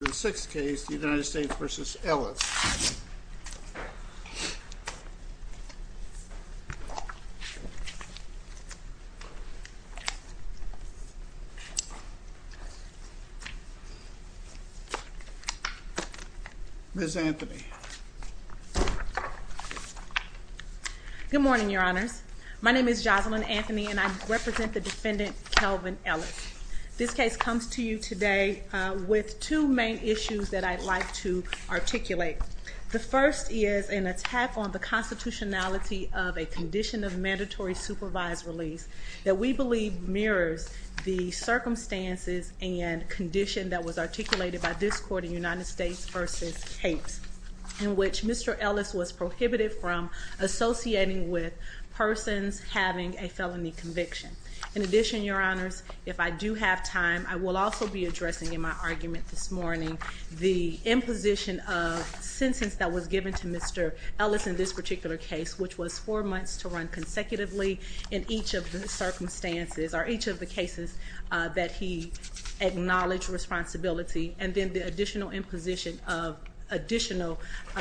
The sixth case, the United States v. Ellis. Ms. Anthony. Good morning, your honors. My name is Jocelyn Anthony and I represent the defendant, Kelvin Ellis. This case comes to you today with two main issues that I'd like to articulate. The first is an attack on the constitutionality of a condition of mandatory supervised release that we believe mirrors the circumstances and condition that was articulated by this court in United States v. Capes. In which Mr. Ellis was prohibited from associating with persons having a felony conviction. In addition, your honors, if I do have time, I will also be addressing in my argument this morning the imposition of sentence that was given to Mr. Ellis in this particular case. Which was four months to run consecutively in each of the circumstances or each of the cases that he acknowledged responsibility. And then the additional imposition of additional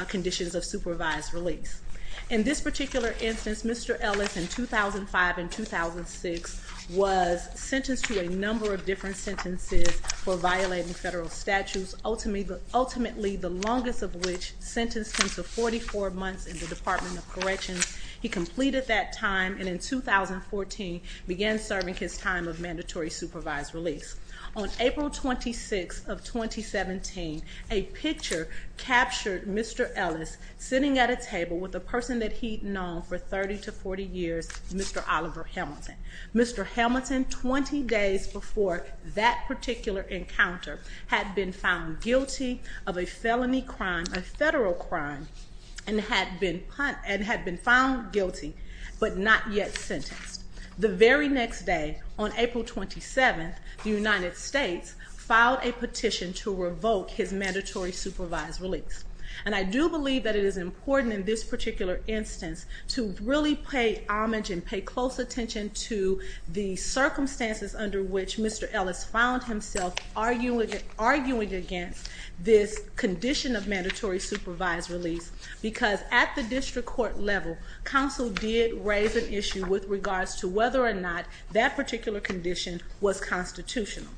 conditions of supervised release. In this particular instance, Mr. Ellis in 2005 and 2006 was sentenced to a number of different sentences for violating federal statutes. Ultimately, the longest of which, sentenced him to 44 months in the Department of Corrections. He completed that time and in 2014 began serving his time of mandatory supervised release. On April 26th of 2017, a picture captured Mr. Ellis sitting at a table with a person that he'd known for 30 to 40 years, Mr. Oliver Hamilton. Mr. Hamilton, 20 days before that particular encounter, had been found guilty of a felony crime, a federal crime. And had been found guilty, but not yet sentenced. The very next day, on April 27th, the United States filed a petition to revoke his mandatory supervised release. And I do believe that it is important in this particular instance to really pay homage and pay close attention to the circumstances under which Mr. Ellis found himself arguing against this condition of mandatory supervised release. Because at the district court level, counsel did raise an issue with regards to whether or not that particular condition was constitutional.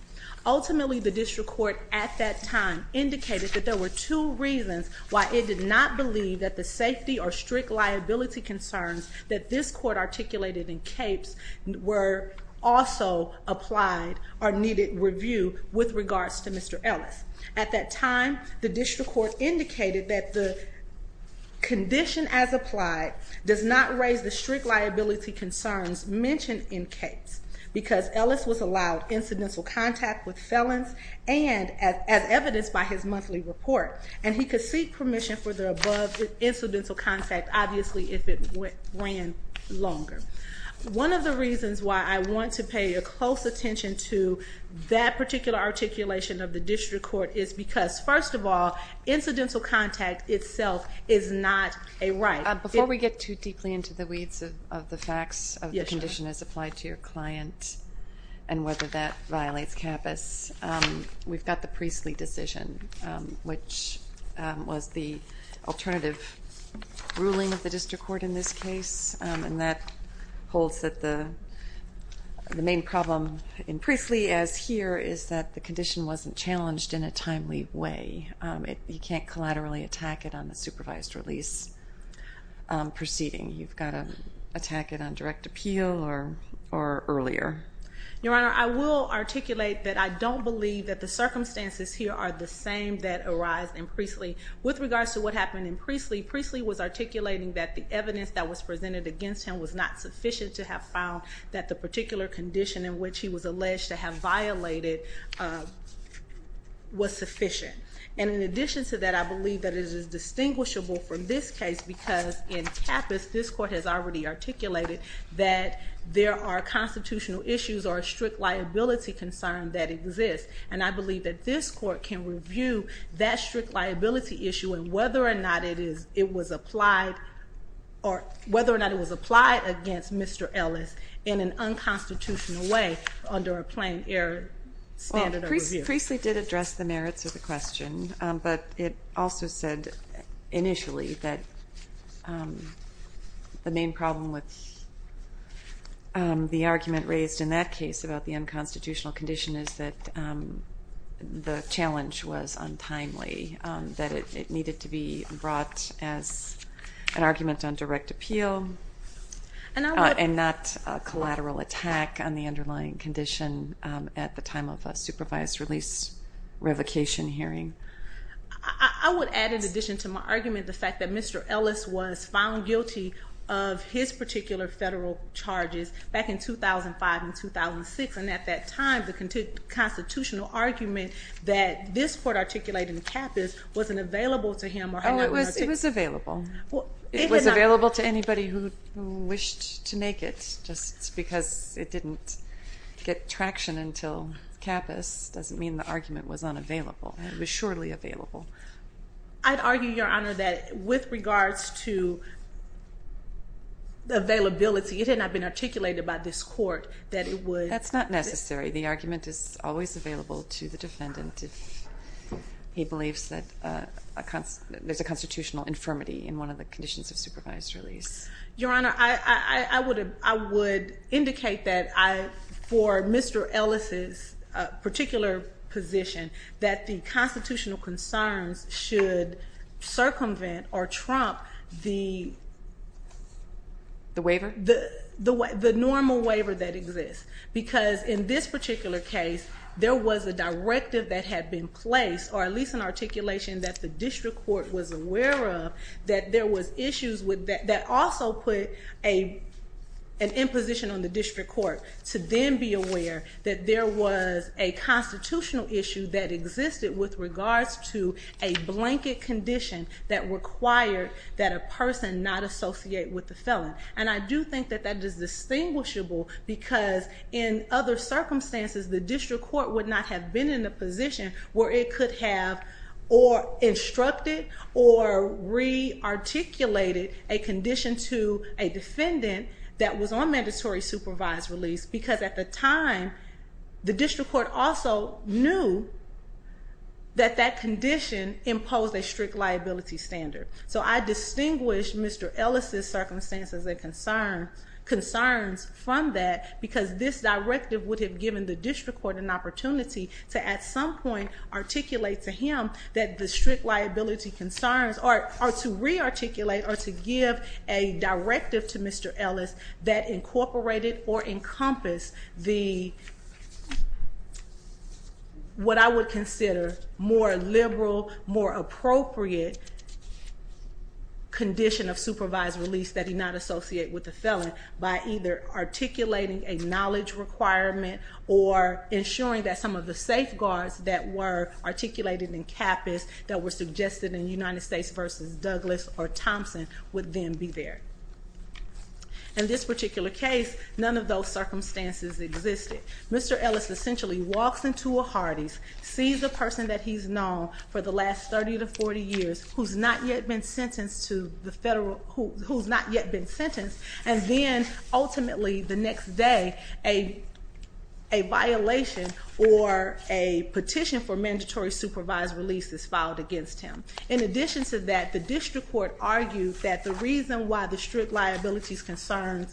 Ultimately, the district court at that time indicated that there were two reasons why it did not believe that the safety or strict liability concerns that this court articulated in CAPES were also applied or needed review with regards to Mr. Ellis. At that time, the district court indicated that the condition as applied does not raise the strict liability concerns mentioned in CAPES because Ellis was allowed incidental contact with felons and as evidenced by his monthly report. And he could seek permission for the above incidental contact, obviously, if it ran longer. One of the reasons why I want to pay a close attention to that particular articulation of the district court is because, first of all, incidental contact itself is not a right. Before we get too deeply into the weeds of the facts of the condition as applied to your client and whether that violates CAPES, we've got the Priestly decision, which was the alternative ruling of the district court in this case. And that holds that the main problem in Priestly, as here, is that the condition wasn't challenged in a timely way. You can't collaterally attack it on the supervised release proceeding. You've got to attack it on direct appeal or earlier. Your Honor, I will articulate that I don't believe that the circumstances here are the same that arise in Priestly. With regards to what happened in Priestly, Priestly was articulating that the evidence that was presented against him was not sufficient to have found that the particular condition in which he was alleged to have violated was sufficient. And in addition to that, I believe that it is distinguishable from this case because in CAPES, this court has already articulated that there are constitutional issues or a strict liability concern that exists. And I believe that this court can review that strict liability issue and whether or not it was applied against Mr. Ellis in an unconstitutional way under a plain air standard of review. Well, Priestly did address the merits of the question, but it also said initially that the main problem with the argument raised in that case about the unconstitutional condition is that the challenge was untimely, that it needed to be brought as an argument on direct appeal and not a collateral attack on the underlying condition at the time of a supervised release revocation hearing. I would add in addition to my argument the fact that Mr. Ellis was found guilty of his particular federal charges back in 2005 and 2006, and at that time the constitutional argument that this court articulated in CAPES wasn't available to him. Oh, it was available. It was available to anybody who wished to make it, just because it didn't get traction until CAPES doesn't mean the argument was unavailable. It was surely available. I'd argue, Your Honor, that with regards to availability, it had not been articulated by this court that it would... That's not necessary. The argument is always available to the defendant if he believes that there's a constitutional infirmity in one of the conditions of supervised release. Your Honor, I would indicate that for Mr. Ellis's particular position that the constitutional concerns should circumvent or trump the... The waiver? The normal waiver that exists. Because in this particular case, there was a directive that had been placed, or at least an articulation that the district court was aware of, that there was issues that also put an imposition on the district court to then be aware that there was a constitutional issue that existed with regards to a blanket condition that required that a person not associate with the felon. And I do think that that is distinguishable, because in other circumstances, the district court would not have been in a position where it could have instructed or re-articulated a condition to a defendant that was on mandatory supervised release, because at the time, the district court also knew that that condition imposed a strict liability standard. So I distinguish Mr. Ellis's circumstances and concerns from that, because this directive would have given the district court an opportunity to at some point articulate to him that the strict liability concerns, or to re-articulate or to give a directive to Mr. Ellis that incorporated or encompassed what I would consider more liberal, more appropriate condition of supervised release that he not associate with the felon, by either articulating a knowledge requirement or ensuring that some of the safeguards that were articulated in CAPIS that were suggested in United States v. Douglas or Thompson would then be there. In this particular case, none of those circumstances existed. Mr. Ellis essentially walks into a Hardee's, sees a person that he's known for the last 30 to 40 years who's not yet been sentenced, and then ultimately the next day, a violation or a petition for mandatory supervised release is filed against him. In addition to that, the district court argued that the reason why the strict liability concerns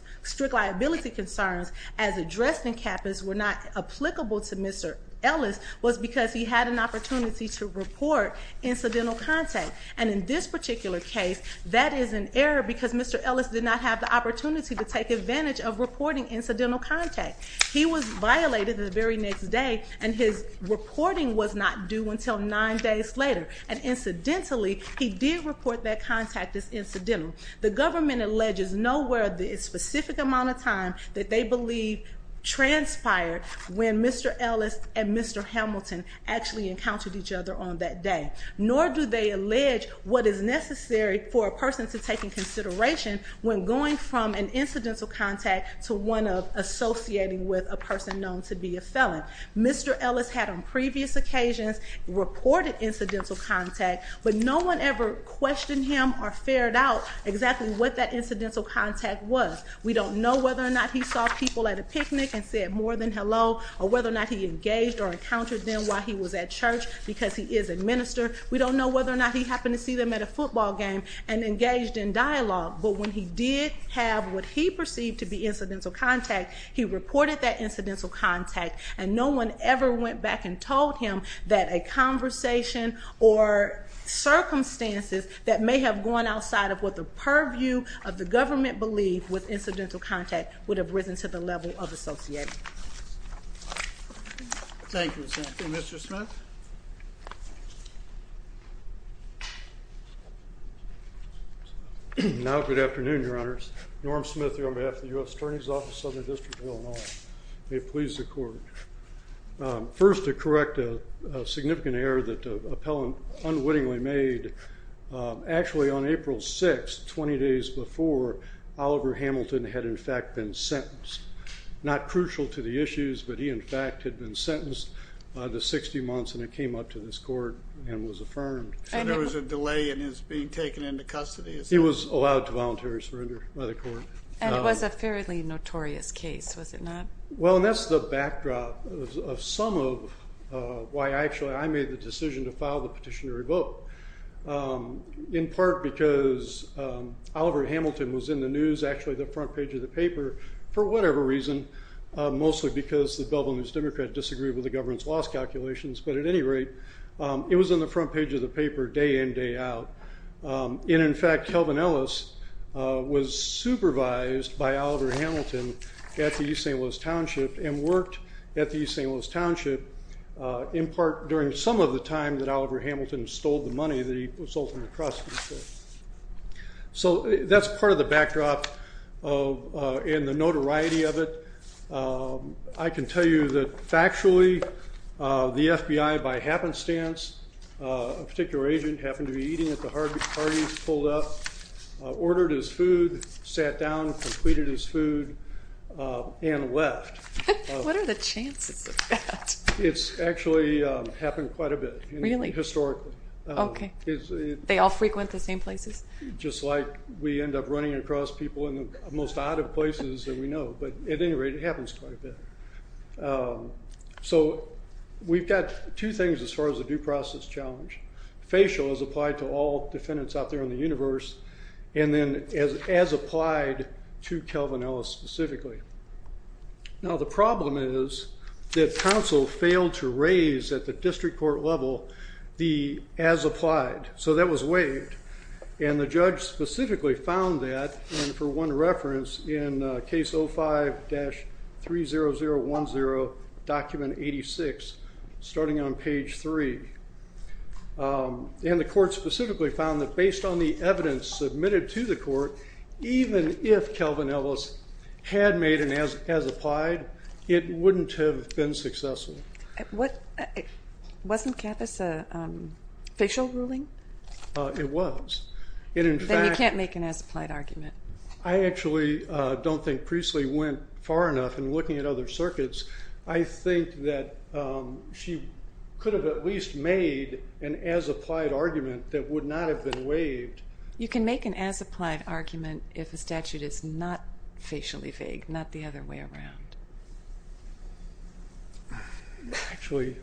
as addressed in CAPIS were not applicable to Mr. Ellis was because he had an opportunity to report incidental contact. And in this particular case, that is an error because Mr. Ellis did not have the opportunity to take advantage of reporting incidental contact. He was violated the very next day, and his reporting was not due until nine days later. And incidentally, he did report that contact as incidental. The government alleges nowhere the specific amount of time that they believe transpired when Mr. Ellis and Mr. Hamilton actually encountered each other on that day. Nor do they allege what is necessary for a person to take in consideration when going from an incidental contact to one associating with a person known to be a felon. Mr. Ellis had on previous occasions reported incidental contact, but no one ever questioned him or fared out exactly what that incidental contact was. We don't know whether or not he saw people at a picnic and said more than hello, or whether or not he engaged or encountered them while he was at church because he is a minister. We don't know whether or not he happened to see them at a football game and engaged in dialogue. But when he did have what he perceived to be incidental contact, he reported that incidental contact, and no one ever went back and told him that a conversation or circumstances that may have gone outside of what the purview of the government believed with incidental contact would have risen to the level of associating. Thank you, Senator. Mr. Smith? Now, good afternoon, Your Honors. Norm Smith here on behalf of the U.S. Attorney's Office, Southern District of Illinois. May it please the Court. First, to correct a significant error that the appellant unwittingly made, actually on April 6th, 20 days before, Oliver Hamilton had in fact been sentenced. Not crucial to the issues, but he, in fact, had been sentenced to 60 months, and it came up to this Court and was affirmed. So there was a delay in his being taken into custody? He was allowed to voluntarily surrender by the Court. And it was a fairly notorious case, was it not? Well, and that's the backdrop of some of why, actually, I made the decision to file the petition to revoke, in part because Oliver Hamilton was in the news, which was actually the front page of the paper, for whatever reason, mostly because the Bellevue News-Democrat disagreed with the government's loss calculations. But at any rate, it was in the front page of the paper, day in, day out. And in fact, Kelvin Ellis was supervised by Oliver Hamilton at the East St. Louis Township and worked at the East St. Louis Township, in part during some of the time that Oliver Hamilton stole the money that he sold from the crossings there. So that's part of the backdrop and the notoriety of it. I can tell you that, factually, the FBI, by happenstance, a particular agent happened to be eating at the Harvey's, pulled up, ordered his food, sat down, completed his food, and left. What are the chances of that? It's actually happened quite a bit, historically. Okay. They all frequent the same places? Just like we end up running across people in the most odd of places that we know. But at any rate, it happens quite a bit. So we've got two things as far as the due process challenge. Facial has applied to all defendants out there in the universe, and then as applied to Kelvin Ellis specifically. Now the problem is that counsel failed to raise at the district court level the as applied. So that was waived. And the judge specifically found that, and for one reference, in case 05-30010, document 86, starting on page 3. And the court specifically found that based on the evidence submitted to the court, even if Kelvin Ellis had made an as applied, it wouldn't have been successful. Wasn't Kappas a facial ruling? It was. Then you can't make an as applied argument. I actually don't think Priestley went far enough in looking at other circuits. I think that she could have at least made an as applied argument that would not have been waived. You can make an as applied argument if a statute is not facially vague, not the other way around. Actually,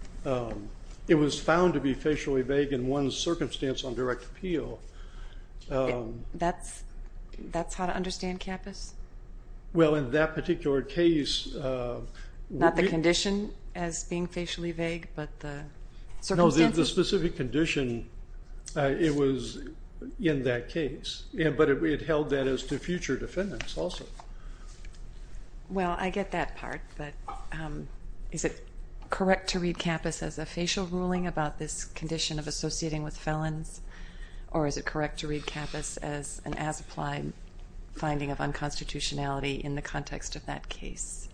it was found to be facially vague in one circumstance on direct appeal. That's how to understand Kappas? Well, in that particular case. Not the condition as being facially vague, but the circumstances. No, the specific condition, it was in that case. But it held that as to future defendants also. Well, I get that part. But is it correct to read Kappas as a facial ruling about this condition of associating with felons? Or is it correct to read Kappas as an as applied finding of unconstitutionality in the context of that case?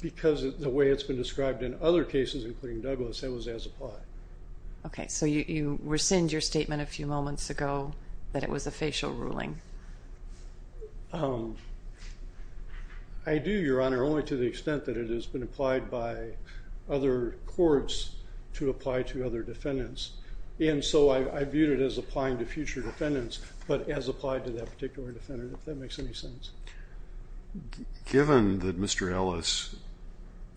Because the way it's been described in other cases, including Douglas, that was as applied. Okay. So you rescind your statement a few moments ago that it was a facial I do, Your Honor, only to the extent that it has been applied by other courts to apply to other defendants. And so I viewed it as applying to future defendants, but as applied to that particular defendant, if that makes any sense. Given that Mr. Ellis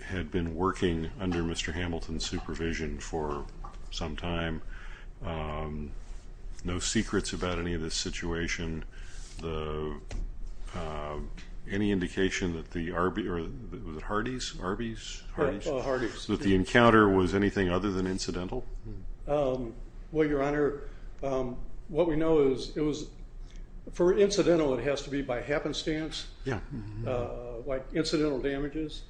had been working under Mr. Hamilton's supervision for some time, no secrets about any of this situation, any indication that the Hardy's, that the encounter was anything other than incidental? Well, Your Honor, what we know is it was, for incidental, it has to be by happenstance, like incidental damages.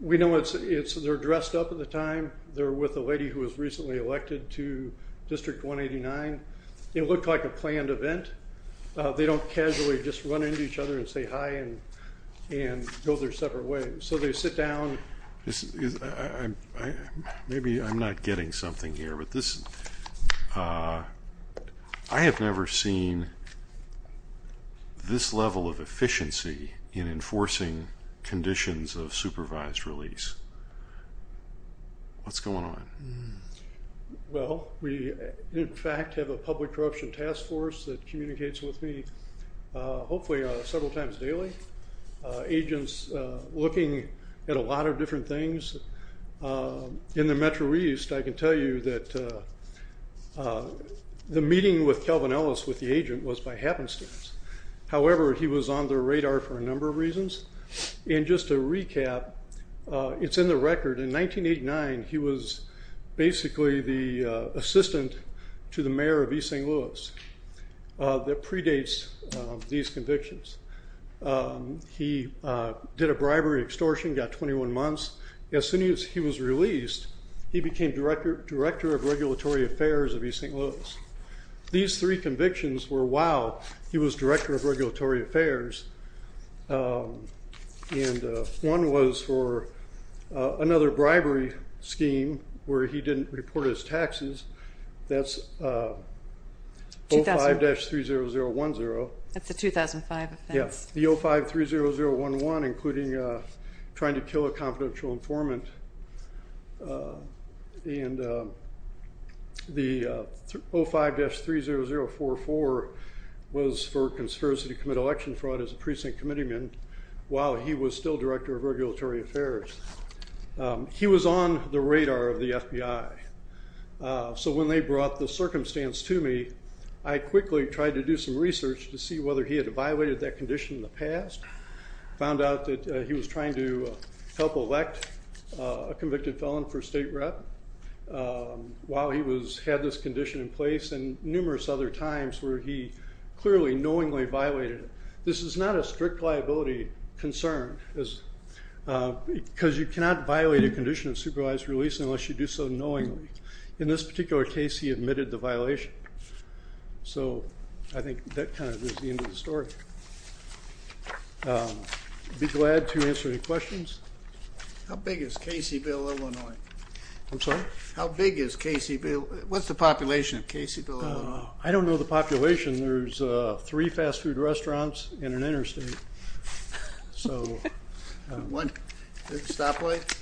We know it's, they're dressed up at the time. They're with a lady who was recently elected to district 189. It looked like a planned event. They don't casually just run into each other and say hi and, and go their separate ways. So they sit down. Maybe I'm not getting something here, but this, I have never seen this level of efficiency in enforcing conditions of supervised release. What's going on? Well, we in fact have a public corruption task force that communicates with me hopefully several times daily. Agents looking at a lot of different things. In the Metro East, I can tell you that the meeting with Calvin Ellis, with the agent, was by happenstance. However, he was on their radar for a number of reasons. And just to recap, it's in the record. In 1989, he was basically the assistant to the mayor of East St. Louis that predates these convictions. He did a bribery extortion, got 21 months. As soon as he was released, he became director, director of regulatory affairs of East St. Louis. These three convictions were, wow, he was director of regulatory affairs. And one was for another bribery scheme where he didn't report his taxes. That's 05-30010. That's a 2005 offense. The 05-30011, including trying to kill a confidential informant. And the 05-30044 was for conspiracy to commit election fraud as a precinct committeeman, while he was still director of regulatory affairs. He was on the radar of the FBI. So when they brought the circumstance to me, I quickly tried to do some research to see whether he had evaluated that condition in the past, found out that he was trying to help elect a convicted felon for state rep. While he had this condition in place, and numerous other times where he clearly knowingly violated it. This is not a strict liability concern, because you cannot violate a condition of supervised release unless you do so knowingly. In this particular case, he admitted the violation. So I think that kind of is the end of the story. I'd be glad to answer any questions. How big is Caseyville, Illinois? I'm sorry? How big is Caseyville? What's the population of Caseyville, Illinois? I don't know the population. There's three fast food restaurants and an interstate. One stoplight?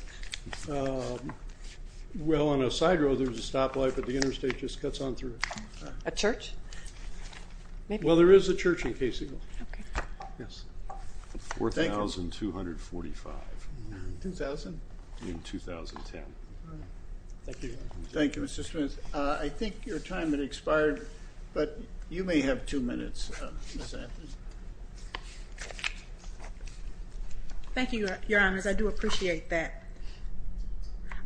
Well, on a side road, there's a stoplight, but the interstate just cuts on through. A church? Well, there is a church in Caseyville. Yes. 4,245. In 2000? In 2010. Thank you. Thank you, Mr. Stewart. I think your time has expired, but you may have two minutes. Thank you, Your Honors. I do appreciate that.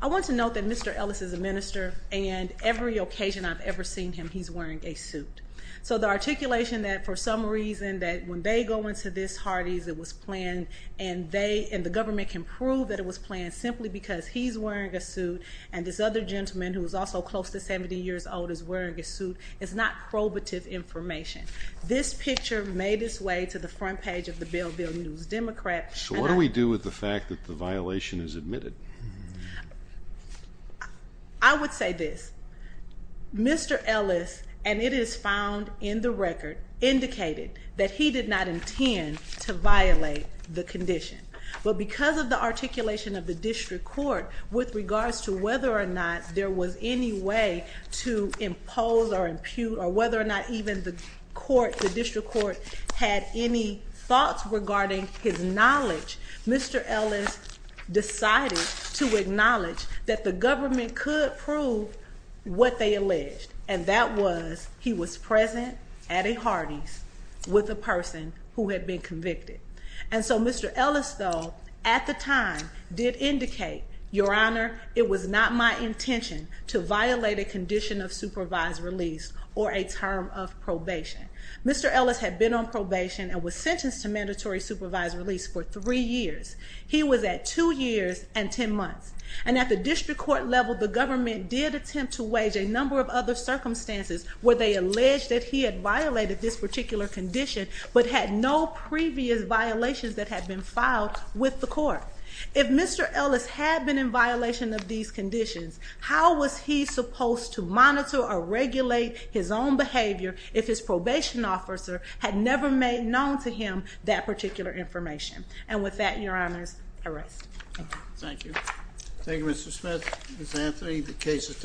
I want to note that Mr. Ellis is a minister, and every occasion I've ever seen him, he's wearing a suit. So the articulation that, for some reason, that when they go into this Hardee's it was planned and the government can prove that it was planned simply because he's wearing a suit and this other gentleman who is also close to 70 years old is wearing a suit is not probative information. This picture made its way to the front page of the Belleville News-Democrat. So what do we do with the fact that the violation is admitted? I would say this. Mr. Ellis, and it is found in the record, indicated that he did not intend to violate the condition. But because of the articulation of the district court with regards to whether or not there was any way to impose or impute or whether or not even the district court had any thoughts regarding his knowledge, Mr. Ellis decided to acknowledge that the government could prove what they alleged, and that was he was present at a Hardee's with a person who had been convicted. And so Mr. Ellis, though, at the time did indicate, Your Honor, it was not my intention to violate a condition of supervised release or a term of probation. Mr. Ellis had been on probation and was sentenced to mandatory supervised release for three years. He was at two years and ten months. And at the district court level, the government did attempt to wage a number of other circumstances where they alleged that he had violated this particular condition but had no previous violations that had been filed with the court. If Mr. Ellis had been in violation of these conditions, how was he supposed to monitor or regulate his own behavior if his probation officer had never made known to him that particular information? And with that, Your Honor, arrest. Thank you. Thank you, Mr. Smith. Ms. Anthony, the case is taken.